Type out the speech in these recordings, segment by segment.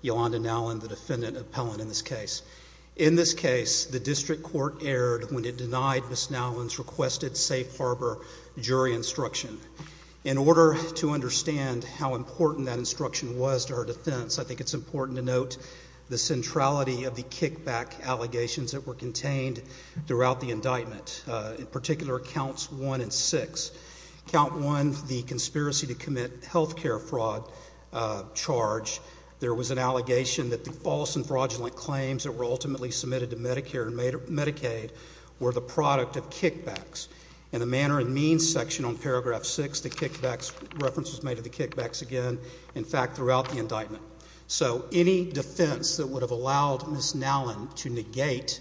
the defendant appellant in this case. In this case, the district court erred when it denied Ms. Nowlin's requested safe harbor jury instruction. In order to understand how important that instruction was to her defense, I think it's important to note the centrality of the kickback allegations that were contained throughout the indictment, in particular counts one and six. Count one, the conspiracy to commit healthcare fraud charge. There was an allegation that the false and fraudulent claims that were ultimately submitted to Medicare and Medicaid were the product of kickbacks. In the manner and means section on paragraph six, the kickbacks reference was made to the kickbacks again, in fact, throughout the indictment. So any defense that would have allowed Ms. Nowlin to negate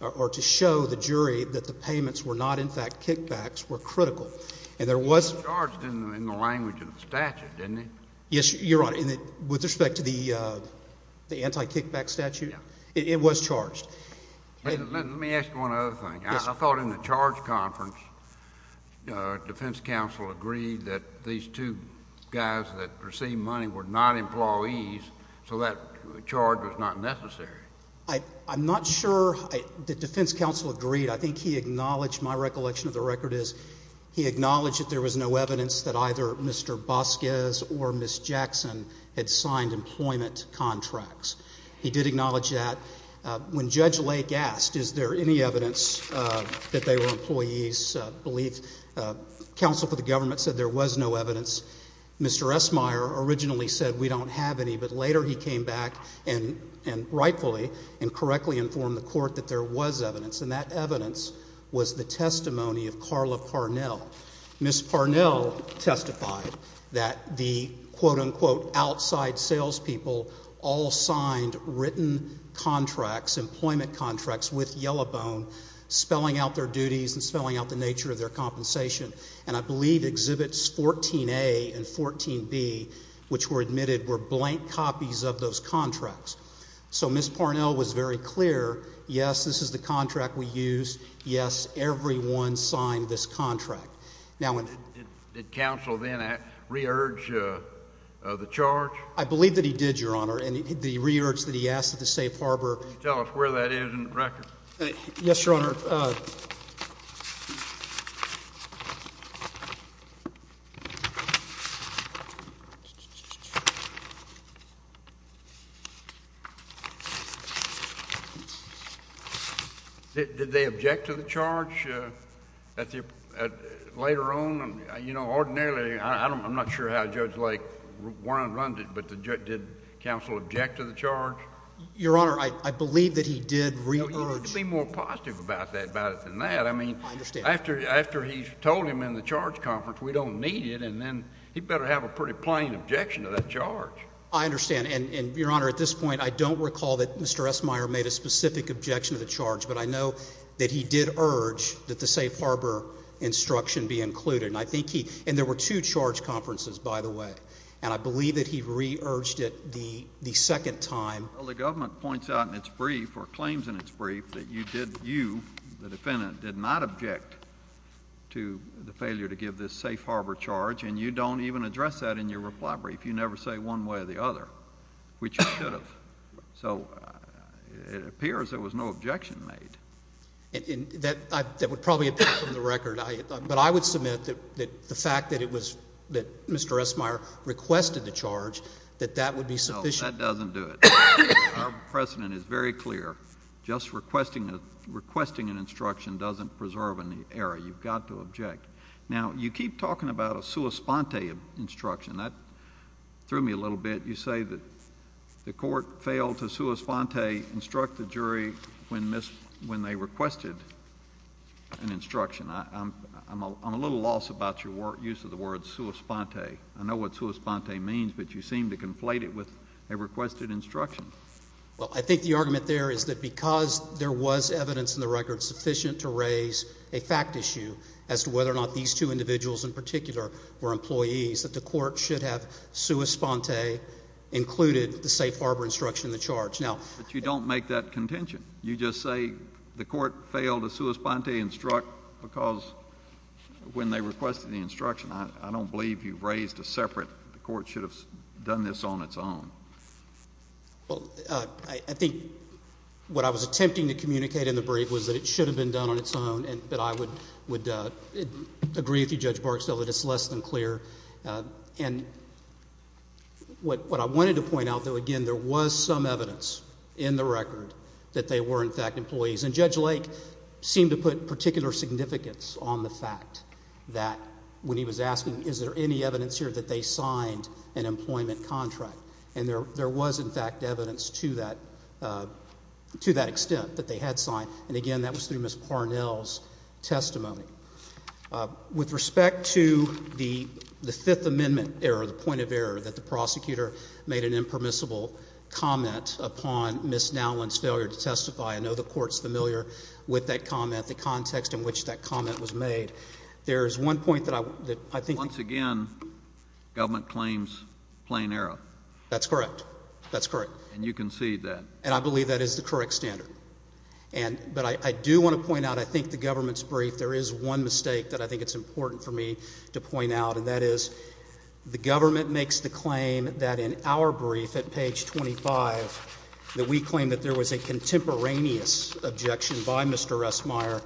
or to show the jury that the payments were not, in fact, kickbacks were critical. And there was... It was charged in the language of the statute, didn't it? Yes, Your Honor. With respect to the anti-kickback statute, it was charged. Let me ask you one other thing. I thought in the charge conference, defense counsel agreed that these two guys that received money were not employees, so that charge was not necessary. I'm not sure that defense counsel agreed. I think he acknowledged, my recollection of the record is he acknowledged that there was no evidence that either Mr. Bosquez or Ms. Jackson had signed employment contracts. He did acknowledge that. When Judge Lake asked, is there any evidence that they were employees, I believe counsel for the government said there was no evidence. Mr. Esmeyer originally said we don't have any, but later he came back and rightfully and correctly informed the court that there was evidence, and that evidence was the testimony of Carla Parnell. Ms. Parnell testified that the, quote-unquote, outside salespeople all signed written contracts, employment contracts, with Yellowbone, spelling out their duties and spelling out the nature of their compensation. And I believe Exhibits 14A and 14B, which were admitted, were blank copies of those contracts. So Ms. Parnell was very clear, yes, this is the contract we used, yes, everyone signed this contract. Did counsel then re-urge the charge? I believe that he did, Your Honor, and the re-urge that he asked at the safe harbor. Can you tell us where that is in the record? Yes, Your Honor. Did they object to the charge later on? You know, ordinarily, I'm not sure how Judge Lake went around it, but did counsel object to the charge? Your Honor, I believe that he did re-urge. No, you have to be more positive about it than that. I understand. I mean, after he told him in the charge conference, we don't need it, and then he better have a pretty plain objection to that charge. I understand. And, Your Honor, at this point, I don't recall that Mr. Esmeyer made a specific objection to the charge, but I know that he did urge that the safe harbor instruction be included. And there were two charge conferences, by the way, and I believe that he re-urged it the second time. Well, the government points out in its brief or claims in its brief that you, the defendant, did not object to the failure to give this safe harbor charge, and you don't even address that in your reply brief. You never say one way or the other, which you should have. So it appears there was no objection made. That would probably depend on the record. But I would submit that the fact that Mr. Esmeyer requested the charge, that that would be sufficient. No, that doesn't do it. Our precedent is very clear. Just requesting an instruction doesn't preserve an error. You've got to object. Now, you keep talking about a sua sponte instruction. That threw me a little bit. You say that the court failed to sua sponte instruct the jury when they requested an instruction. I'm a little lost about your use of the word sua sponte. I know what sua sponte means, but you seem to conflate it with a requested instruction. Well, I think the argument there is that because there was evidence in the record sufficient to raise a fact issue as to whether or not these two individuals in particular were employees, that the court should have sua sponte included the safe harbor instruction in the charge. But you don't make that contention. You just say the court failed to sua sponte instruct because when they requested the instruction. I don't believe you raised a separate, the court should have done this on its own. Well, I think what I was attempting to communicate in the brief was that it should have been done on its own, but I would agree with you, Judge Barksdale, that it's less than clear. And what I wanted to point out, though, again, there was some evidence in the record that they were, in fact, employees. And Judge Lake seemed to put particular significance on the fact that when he was asking, is there any evidence here that they signed an employment contract? And there was, in fact, evidence to that extent that they had signed. And, again, that was through Ms. Parnell's testimony. With respect to the Fifth Amendment error, the point of error, that the prosecutor made an impermissible comment upon Ms. Nowlin's failure to testify, I know the court's familiar with that comment, the context in which that comment was made. There is one point that I think. Once again, government claims plain error. That's correct. That's correct. And you concede that. And I believe that is the correct standard. But I do want to point out, I think, the government's brief, there is one mistake that I think it's important for me to point out, and that is the government makes the claim that in our brief at page 25, that we claim that there was a contemporaneous objection by Mr. Esmeyer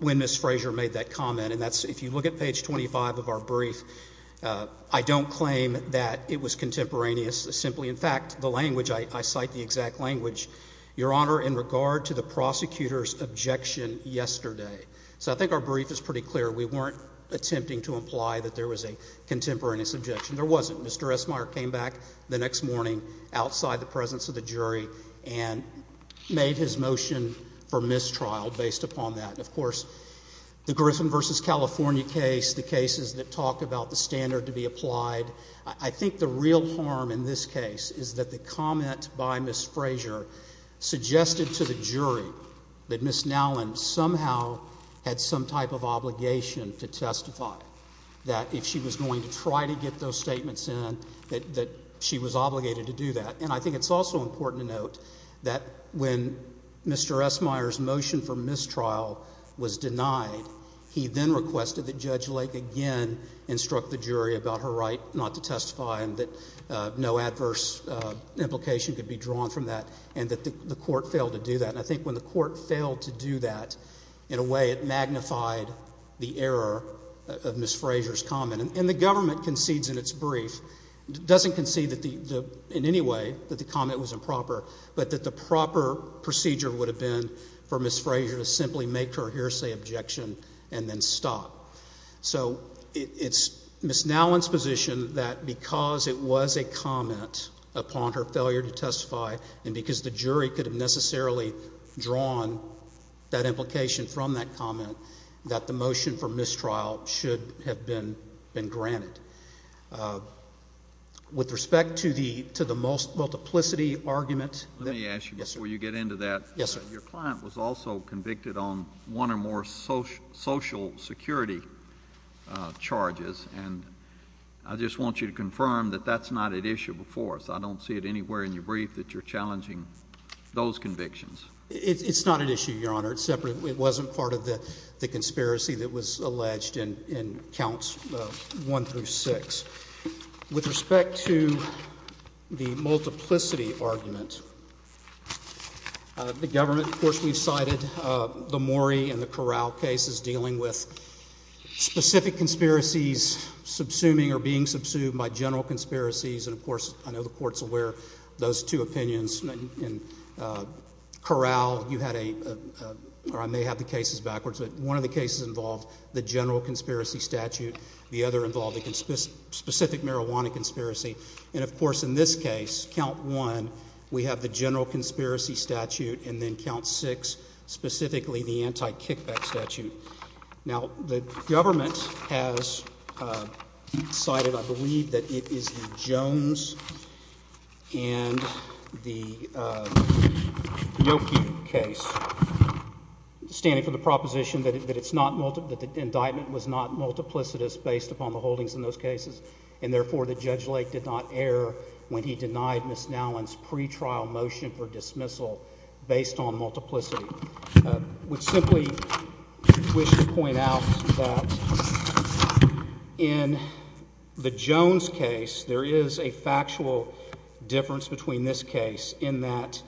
when Ms. Frazier made that comment. And that's, if you look at page 25 of our brief, I don't claim that it was contemporaneous. Simply, in fact, the language, I cite the exact language, Your Honor, in regard to the prosecutor's objection yesterday. So I think our brief is pretty clear. We weren't attempting to imply that there was a contemporaneous objection. There wasn't. Mr. Esmeyer came back the next morning outside the presence of the jury and made his motion for mistrial based upon that. Of course, the Griffin v. California case, the cases that talk about the standard to be applied, I think the real harm in this case is that the comment by Ms. Frazier suggested to the jury that Ms. Nowlin somehow had some type of obligation to testify, that if she was going to try to get those statements in, that she was obligated to do that. And I think it's also important to note that when Mr. Esmeyer's motion for mistrial was denied, he then requested that Judge Lake again instruct the jury about her right not to testify and that no adverse implication could be drawn from that and that the court failed to do that. And I think when the court failed to do that, in a way it magnified the error of Ms. Frazier's comment. And the government concedes in its brief, doesn't concede in any way that the comment was improper, but that the proper procedure would have been for Ms. Frazier to simply make her hearsay objection and then stop. So it's Ms. Nowlin's position that because it was a comment upon her failure to testify and because the jury could have necessarily drawn that implication from that comment, that the motion for mistrial should have been granted. With respect to the multiplicity argument— Let me ask you before you get into that. Yes, sir. Your client was also convicted on one or more social security charges, and I just want you to confirm that that's not at issue before us. I don't see it anywhere in your brief that you're challenging those convictions. It's not at issue, Your Honor. It's separate. It wasn't part of the conspiracy that was alleged in Counts 1 through 6. With respect to the multiplicity argument, the government, of course, we've cited the Morey and the Corral cases dealing with specific conspiracies subsuming or being subsumed by general conspiracies, and, of course, I know the Court's aware of those two opinions. In Corral, you had a—or I may have the cases backwards, but one of the cases involved the general conspiracy statute. The other involved a specific marijuana conspiracy. And, of course, in this case, Count 1, we have the general conspiracy statute, and then Count 6, specifically the anti-kickback statute. Now, the government has cited, I believe, that it is the Jones and the Yokey case, standing for the proposition that it's not—that the indictment was not multiplicitous based upon the holdings in those cases and, therefore, that Judge Lake did not err when he denied Ms. Nowlin's pretrial motion for dismissal based on multiplicity, I would simply wish to point out that in the Jones case, there is a factual difference between this case in that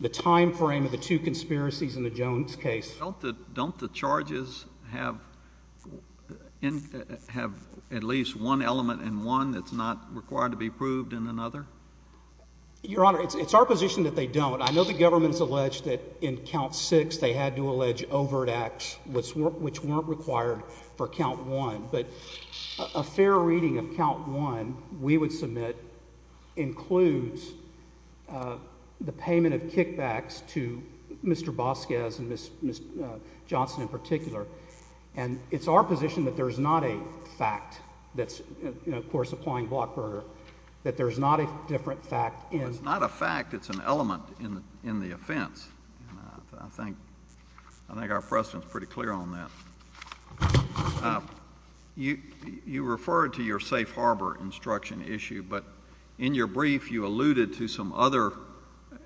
the time frame of the two conspiracies in the Jones case— Don't the charges have at least one element in one that's not required to be proved in another? Your Honor, it's our position that they don't. I know the government has alleged that in Count 6 they had to allege overt acts which weren't required for Count 1, but a fair reading of Count 1, we would submit, includes the payment of kickbacks to Mr. Bosquez and Ms. Johnson in particular. And it's our position that there's not a fact that's, of course, applying Blockburger, that there's not a different fact in— in the offense, and I think—I think our precedent's pretty clear on that. You—you referred to your safe harbor instruction issue, but in your brief you alluded to some other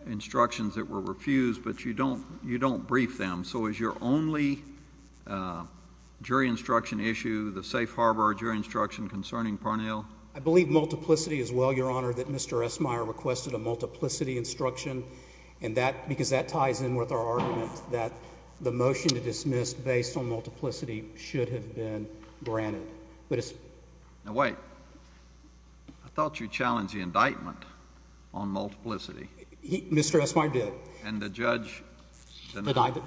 instructions that were refused, but you don't—you don't brief them. So is your only jury instruction issue the safe harbor jury instruction concerning Parnell? I believe multiplicity as well, Your Honor, that Mr. Esmeyer requested a multiplicity instruction, and that—because that ties in with our argument that the motion to dismiss based on multiplicity should have been granted. But it's— Now, wait. I thought you challenged the indictment on multiplicity. Mr. Esmeyer did. And the judge denied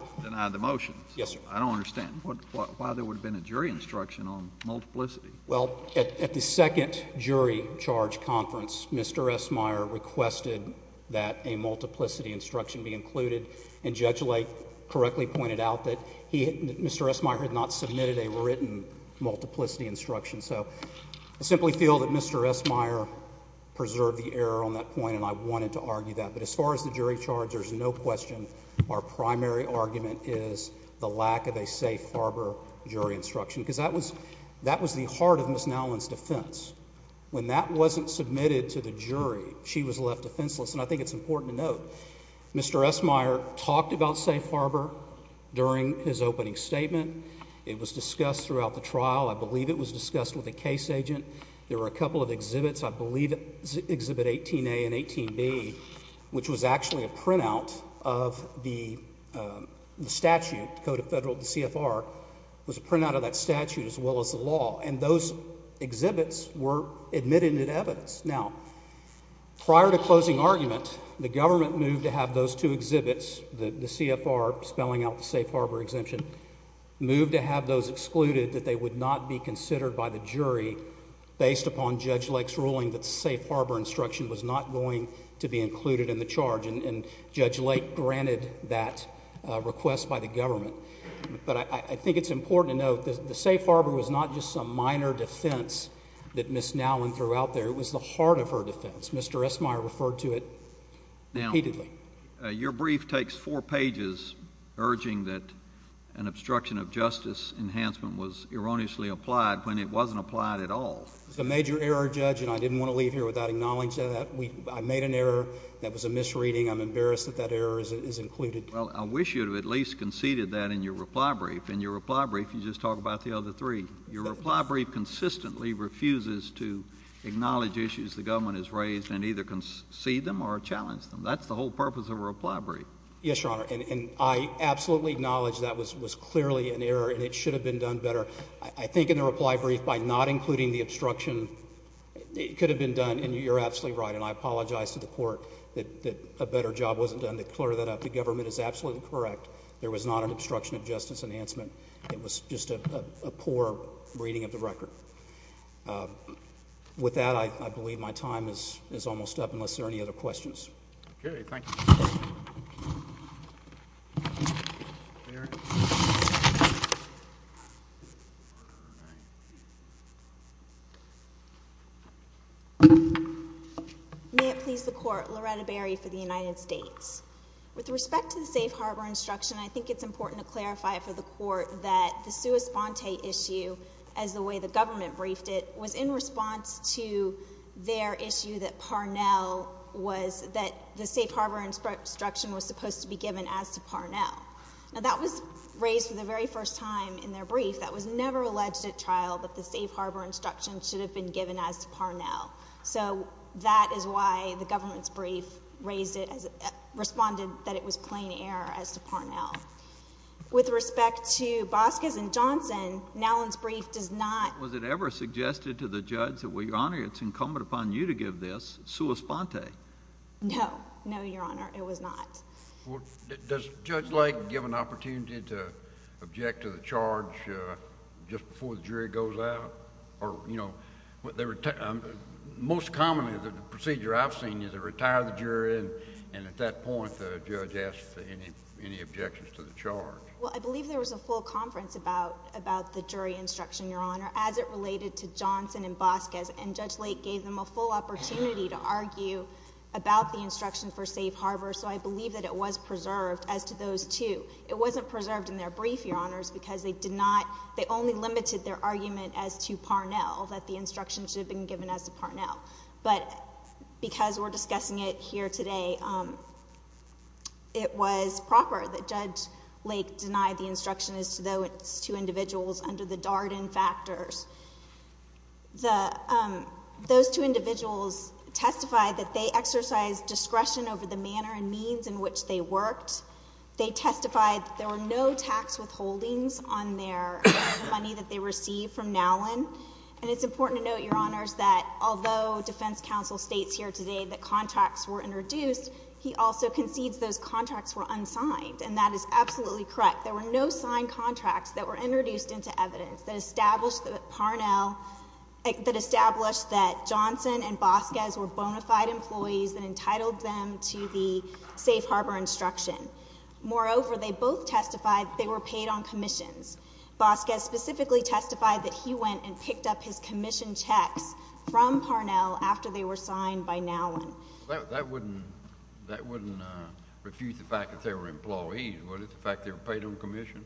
the motion. Yes, sir. I don't understand. Why there would have been a jury instruction on multiplicity? Well, at—at the second jury charge conference, Mr. Esmeyer requested that a multiplicity instruction be included, and Judge Lake correctly pointed out that he—Mr. Esmeyer had not submitted a written multiplicity instruction. So I simply feel that Mr. Esmeyer preserved the error on that point, and I wanted to argue that. But as far as the jury charge, there's no question our primary argument is the lack of a safe harbor jury instruction, because that was—that was the heart of Ms. Nowlin's defense. When that wasn't submitted to the jury, she was left defenseless. And I think it's important to note Mr. Esmeyer talked about safe harbor during his opening statement. It was discussed throughout the trial. I believe it was discussed with the case agent. There were a couple of exhibits. I believe Exhibit 18A and 18B, which was actually a printout of the statute, Code of Federal—the CFR, was a printout of that statute as well as the law. And those exhibits were admitted in evidence. Now, prior to closing argument, the government moved to have those two exhibits, the CFR, spelling out the safe harbor exemption, moved to have those excluded, that they would not be considered by the jury based upon Judge Lake's ruling that the safe harbor instruction was not going to be included in the charge. And Judge Lake granted that request by the government. But I think it's important to note the safe harbor was not just some minor defense that Ms. Nowlin threw out there. It was the heart of her defense. Mr. Esmeyer referred to it repeatedly. Your brief takes four pages urging that an obstruction of justice enhancement was erroneously applied when it wasn't applied at all. It was a major error, Judge, and I didn't want to leave here without acknowledging that. I made an error. That was a misreading. I'm embarrassed that that error is included. Well, I wish you would have at least conceded that in your reply brief. In your reply brief, you just talk about the other three. Your reply brief consistently refuses to acknowledge issues the government has raised and either concede them or challenge them. That's the whole purpose of a reply brief. Yes, Your Honor, and I absolutely acknowledge that was clearly an error and it should have been done better. I think in the reply brief, by not including the obstruction, it could have been done, and you're absolutely right, and I apologize to the court that a better job wasn't done to clear that up. The government is absolutely correct. There was not an obstruction of justice enhancement. It was just a poor reading of the record. With that, I believe my time is almost up unless there are any other questions. Okay, thank you. May it please the court, Loretta Berry for the United States. With respect to the safe harbor instruction, I think it's important to clarify for the court that the sua sponte issue as the way the government briefed it was in response to their issue that Parnell was, that the safe harbor instruction was supposed to be given as to Parnell. Now, that was raised for the very first time in their brief. That was never alleged at trial that the safe harbor instruction should have been given as to Parnell. So that is why the government's brief raised it, responded that it was plain error as to Parnell. With respect to Bosquez and Johnson, Nowland's brief does not... Was it ever suggested to the judge that, well, Your Honor, it's incumbent upon you to give this sua sponte? No. No, Your Honor. It was not. Well, does Judge Lake give an opportunity to object to the charge just before the jury goes out? Or, you know, most commonly the procedure I've seen is they retire the jury, and at that point the judge asks any objections to the charge. Well, I believe there was a full conference about the jury instruction, Your Honor, as it related to Johnson and Bosquez, and Judge Lake gave them a full opportunity to argue about the instruction for safe harbor, so I believe that it was preserved as to those two. It wasn't preserved in their brief, Your Honors, because they only limited their argument as to Parnell, that the instruction should have been given as to Parnell. But because we're discussing it here today, it was proper that Judge Lake deny the instruction as to those two individuals under the Darden factors. Those two individuals testified that they exercised discretion over the manner and means in which they worked. They testified that there were no tax withholdings on the money that they received from Nowland. And it's important to note, Your Honors, that although defense counsel states here today that contracts were introduced, he also concedes those contracts were unsigned, and that is absolutely correct. There were no signed contracts that were introduced into evidence that established that Parnell, that established that Johnson and Bosquez were bona fide employees and entitled them to the safe harbor instruction. Moreover, they both testified they were paid on commissions. Bosquez specifically testified that he went and picked up his commission checks from Parnell after they were signed by Nowland. That wouldn't refuse the fact that they were employees, would it, the fact they were paid on commission?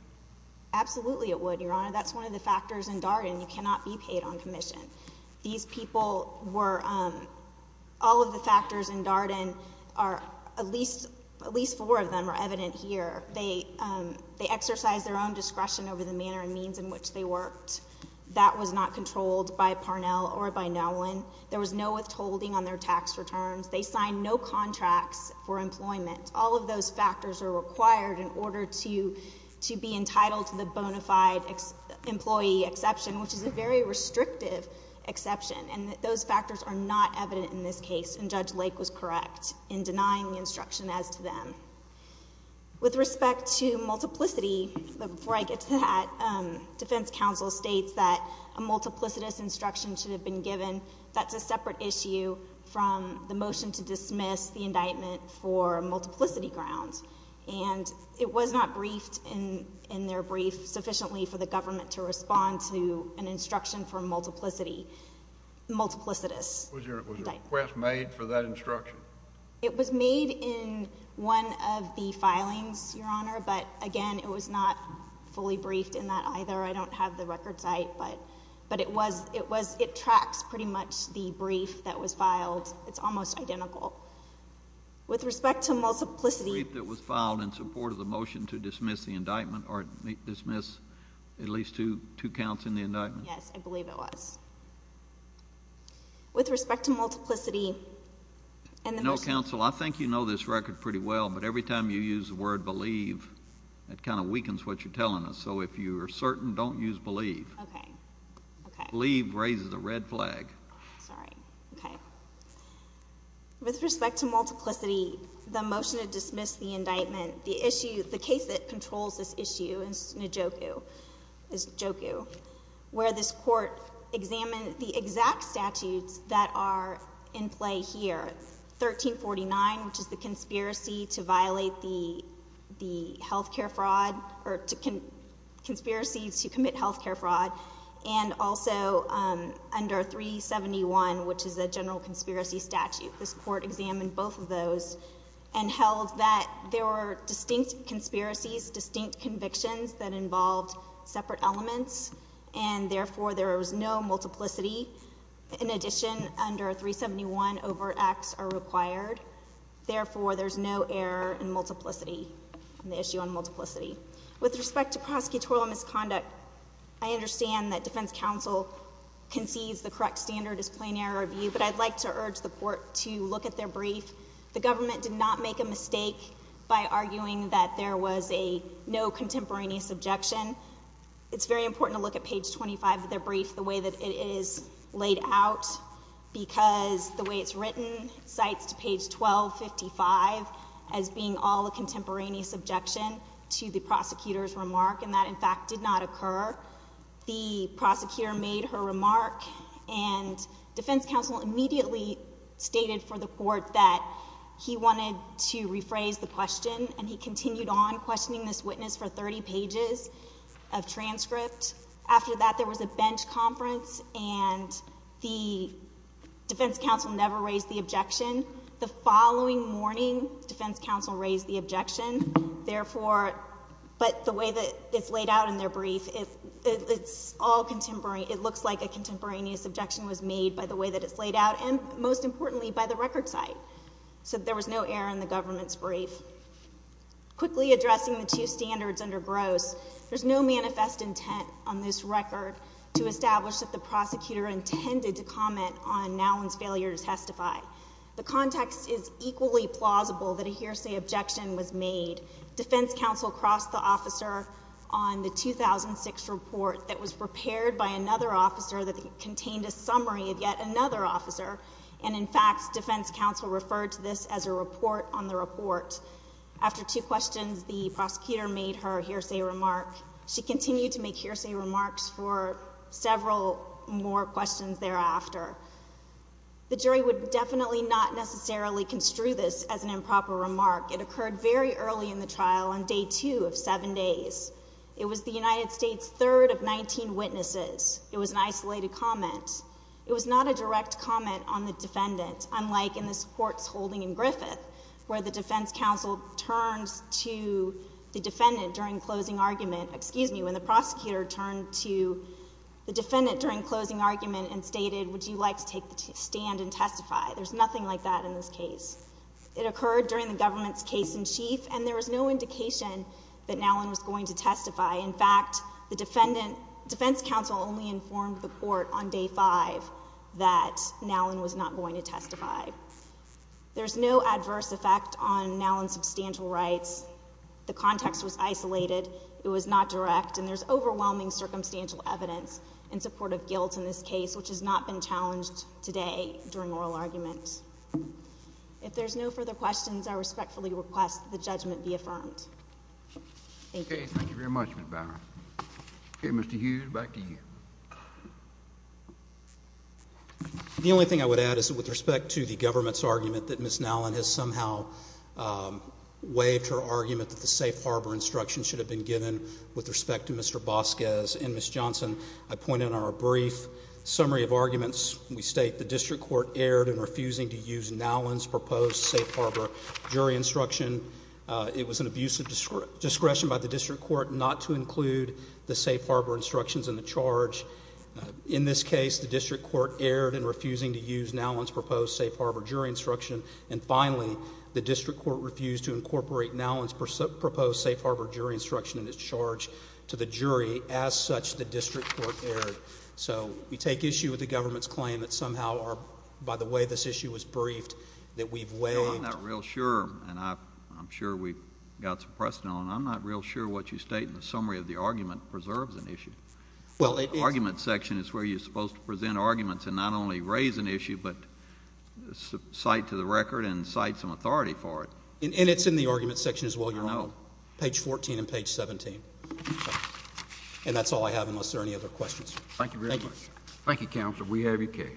Absolutely it would, Your Honor. That's one of the factors in Darden. You cannot be paid on commission. These people were—all of the factors in Darden are—at least four of them are evident here. They exercised their own discretion over the manner and means in which they worked. That was not controlled by Parnell or by Nowland. There was no withholding on their tax returns. They signed no contracts for employment. All of those factors are required in order to be entitled to the bona fide employee exception, which is a very restrictive exception, and those factors are not evident in this case. And Judge Lake was correct in denying the instruction as to them. With respect to multiplicity, before I get to that, defense counsel states that a multiplicitous instruction should have been given. That's a separate issue from the motion to dismiss the indictment for multiplicity grounds. And it was not briefed in their brief sufficiently for the government to respond to an instruction for multiplicity, multiplicitous. Was your request made for that instruction? It was made in one of the filings, Your Honor, but, again, it was not fully briefed in that either. I don't have the record site, but it was—it tracks pretty much the brief that was filed. It's almost identical. With respect to multiplicity— The brief that was filed in support of the motion to dismiss the indictment or dismiss at least two counts in the indictment. Yes, I believe it was. With respect to multiplicity— No, counsel, I think you know this record pretty well, but every time you use the word believe, it kind of weakens what you're telling us. So if you're certain, don't use believe. Okay. Believe raises a red flag. Sorry. Okay. With respect to multiplicity, the motion to dismiss the indictment, the issue—the case that controls this issue in Snujoku, where this court examined the exact statutes that are in play here, 1349, which is the conspiracy to violate the health care fraud or conspiracies to commit health care fraud, and also under 371, which is the general conspiracy statute. This court examined both of those and held that there were distinct conspiracies, distinct convictions that involved separate elements, and therefore, there was no multiplicity. In addition, under 371, overt acts are required. Therefore, there's no error in multiplicity, in the issue on multiplicity. With respect to prosecutorial misconduct, I understand that defense counsel concedes the correct standard is plain error review, but I'd like to urge the court to look at their brief. The government did not make a mistake by arguing that there was a no contemporaneous objection. It's very important to look at page 25 of their brief, the way that it is laid out, because the way it's written cites to page 1255 as being all a contemporaneous objection to the prosecutor's remark, and that, in fact, did not occur. The prosecutor made her remark, and defense counsel immediately stated for the court that he wanted to rephrase the question, and he continued on questioning this witness for 30 pages of transcript. After that, there was a bench conference, and the defense counsel never raised the objection. The following morning, defense counsel raised the objection. But the way that it's laid out in their brief, it looks like a contemporaneous objection was made by the way that it's laid out, and, most importantly, by the record cite. So there was no error in the government's brief. Quickly addressing the two standards under gross, there's no manifest intent on this record to establish that the prosecutor intended to comment on Nowland's failure to testify. The context is equally plausible that a hearsay objection was made. Defense counsel crossed the officer on the 2006 report that was prepared by another officer that contained a summary of yet another officer, and, in fact, defense counsel referred to this as a report on the report. After two questions, the prosecutor made her hearsay remark. She continued to make hearsay remarks for several more questions thereafter. The jury would definitely not necessarily construe this as an improper remark. It occurred very early in the trial, on day two of seven days. It was the United States' third of 19 witnesses. It was an isolated comment. It was not a direct comment on the defendant, unlike in this court's holding in Griffith, where the defense counsel turned to the defendant during closing argument, excuse me, when the prosecutor turned to the defendant during closing argument and stated, would you like to take the stand and testify? There's nothing like that in this case. It occurred during the government's case in chief, and there was no indication that Nowland was going to testify. In fact, the defense counsel only informed the court on day five that Nowland was not going to testify. There's no adverse effect on Nowland's substantial rights. The context was isolated. It was not direct, and there's overwhelming circumstantial evidence in support of guilt in this case, which has not been challenged today during oral argument. If there's no further questions, I respectfully request that the judgment be affirmed. Thank you. Thank you very much, Ms. Bower. Okay, Mr. Hughes, back to you. The only thing I would add is that with respect to the government's argument that Ms. Nowland has somehow waived her argument that the safe harbor instruction should have been given with respect to Mr. Bosquez and Ms. Johnson, I point out in our brief summary of arguments, we state the district court erred in refusing to use Nowland's proposed safe harbor jury instruction. It was an abusive discretion by the district court not to include the safe harbor instructions in the charge. In this case, the district court erred in refusing to use Nowland's proposed safe harbor jury instruction. And finally, the district court refused to incorporate Nowland's proposed safe harbor jury instruction in its charge to the jury. As such, the district court erred. So we take issue with the government's claim that somehow, by the way this issue was briefed, that we've waived. I'm not real sure, and I'm sure we've got some precedent on it. I'm not real sure what you state in the summary of the argument preserves an issue. Well, it is. The argument section is where you're supposed to present arguments and not only raise an issue, but cite to the record and cite some authority for it. And it's in the argument section as well, Your Honor. No. Page 14 and page 17. And that's all I have unless there are any other questions. Thank you very much. Thank you. Thank you, Counsel. We have your case.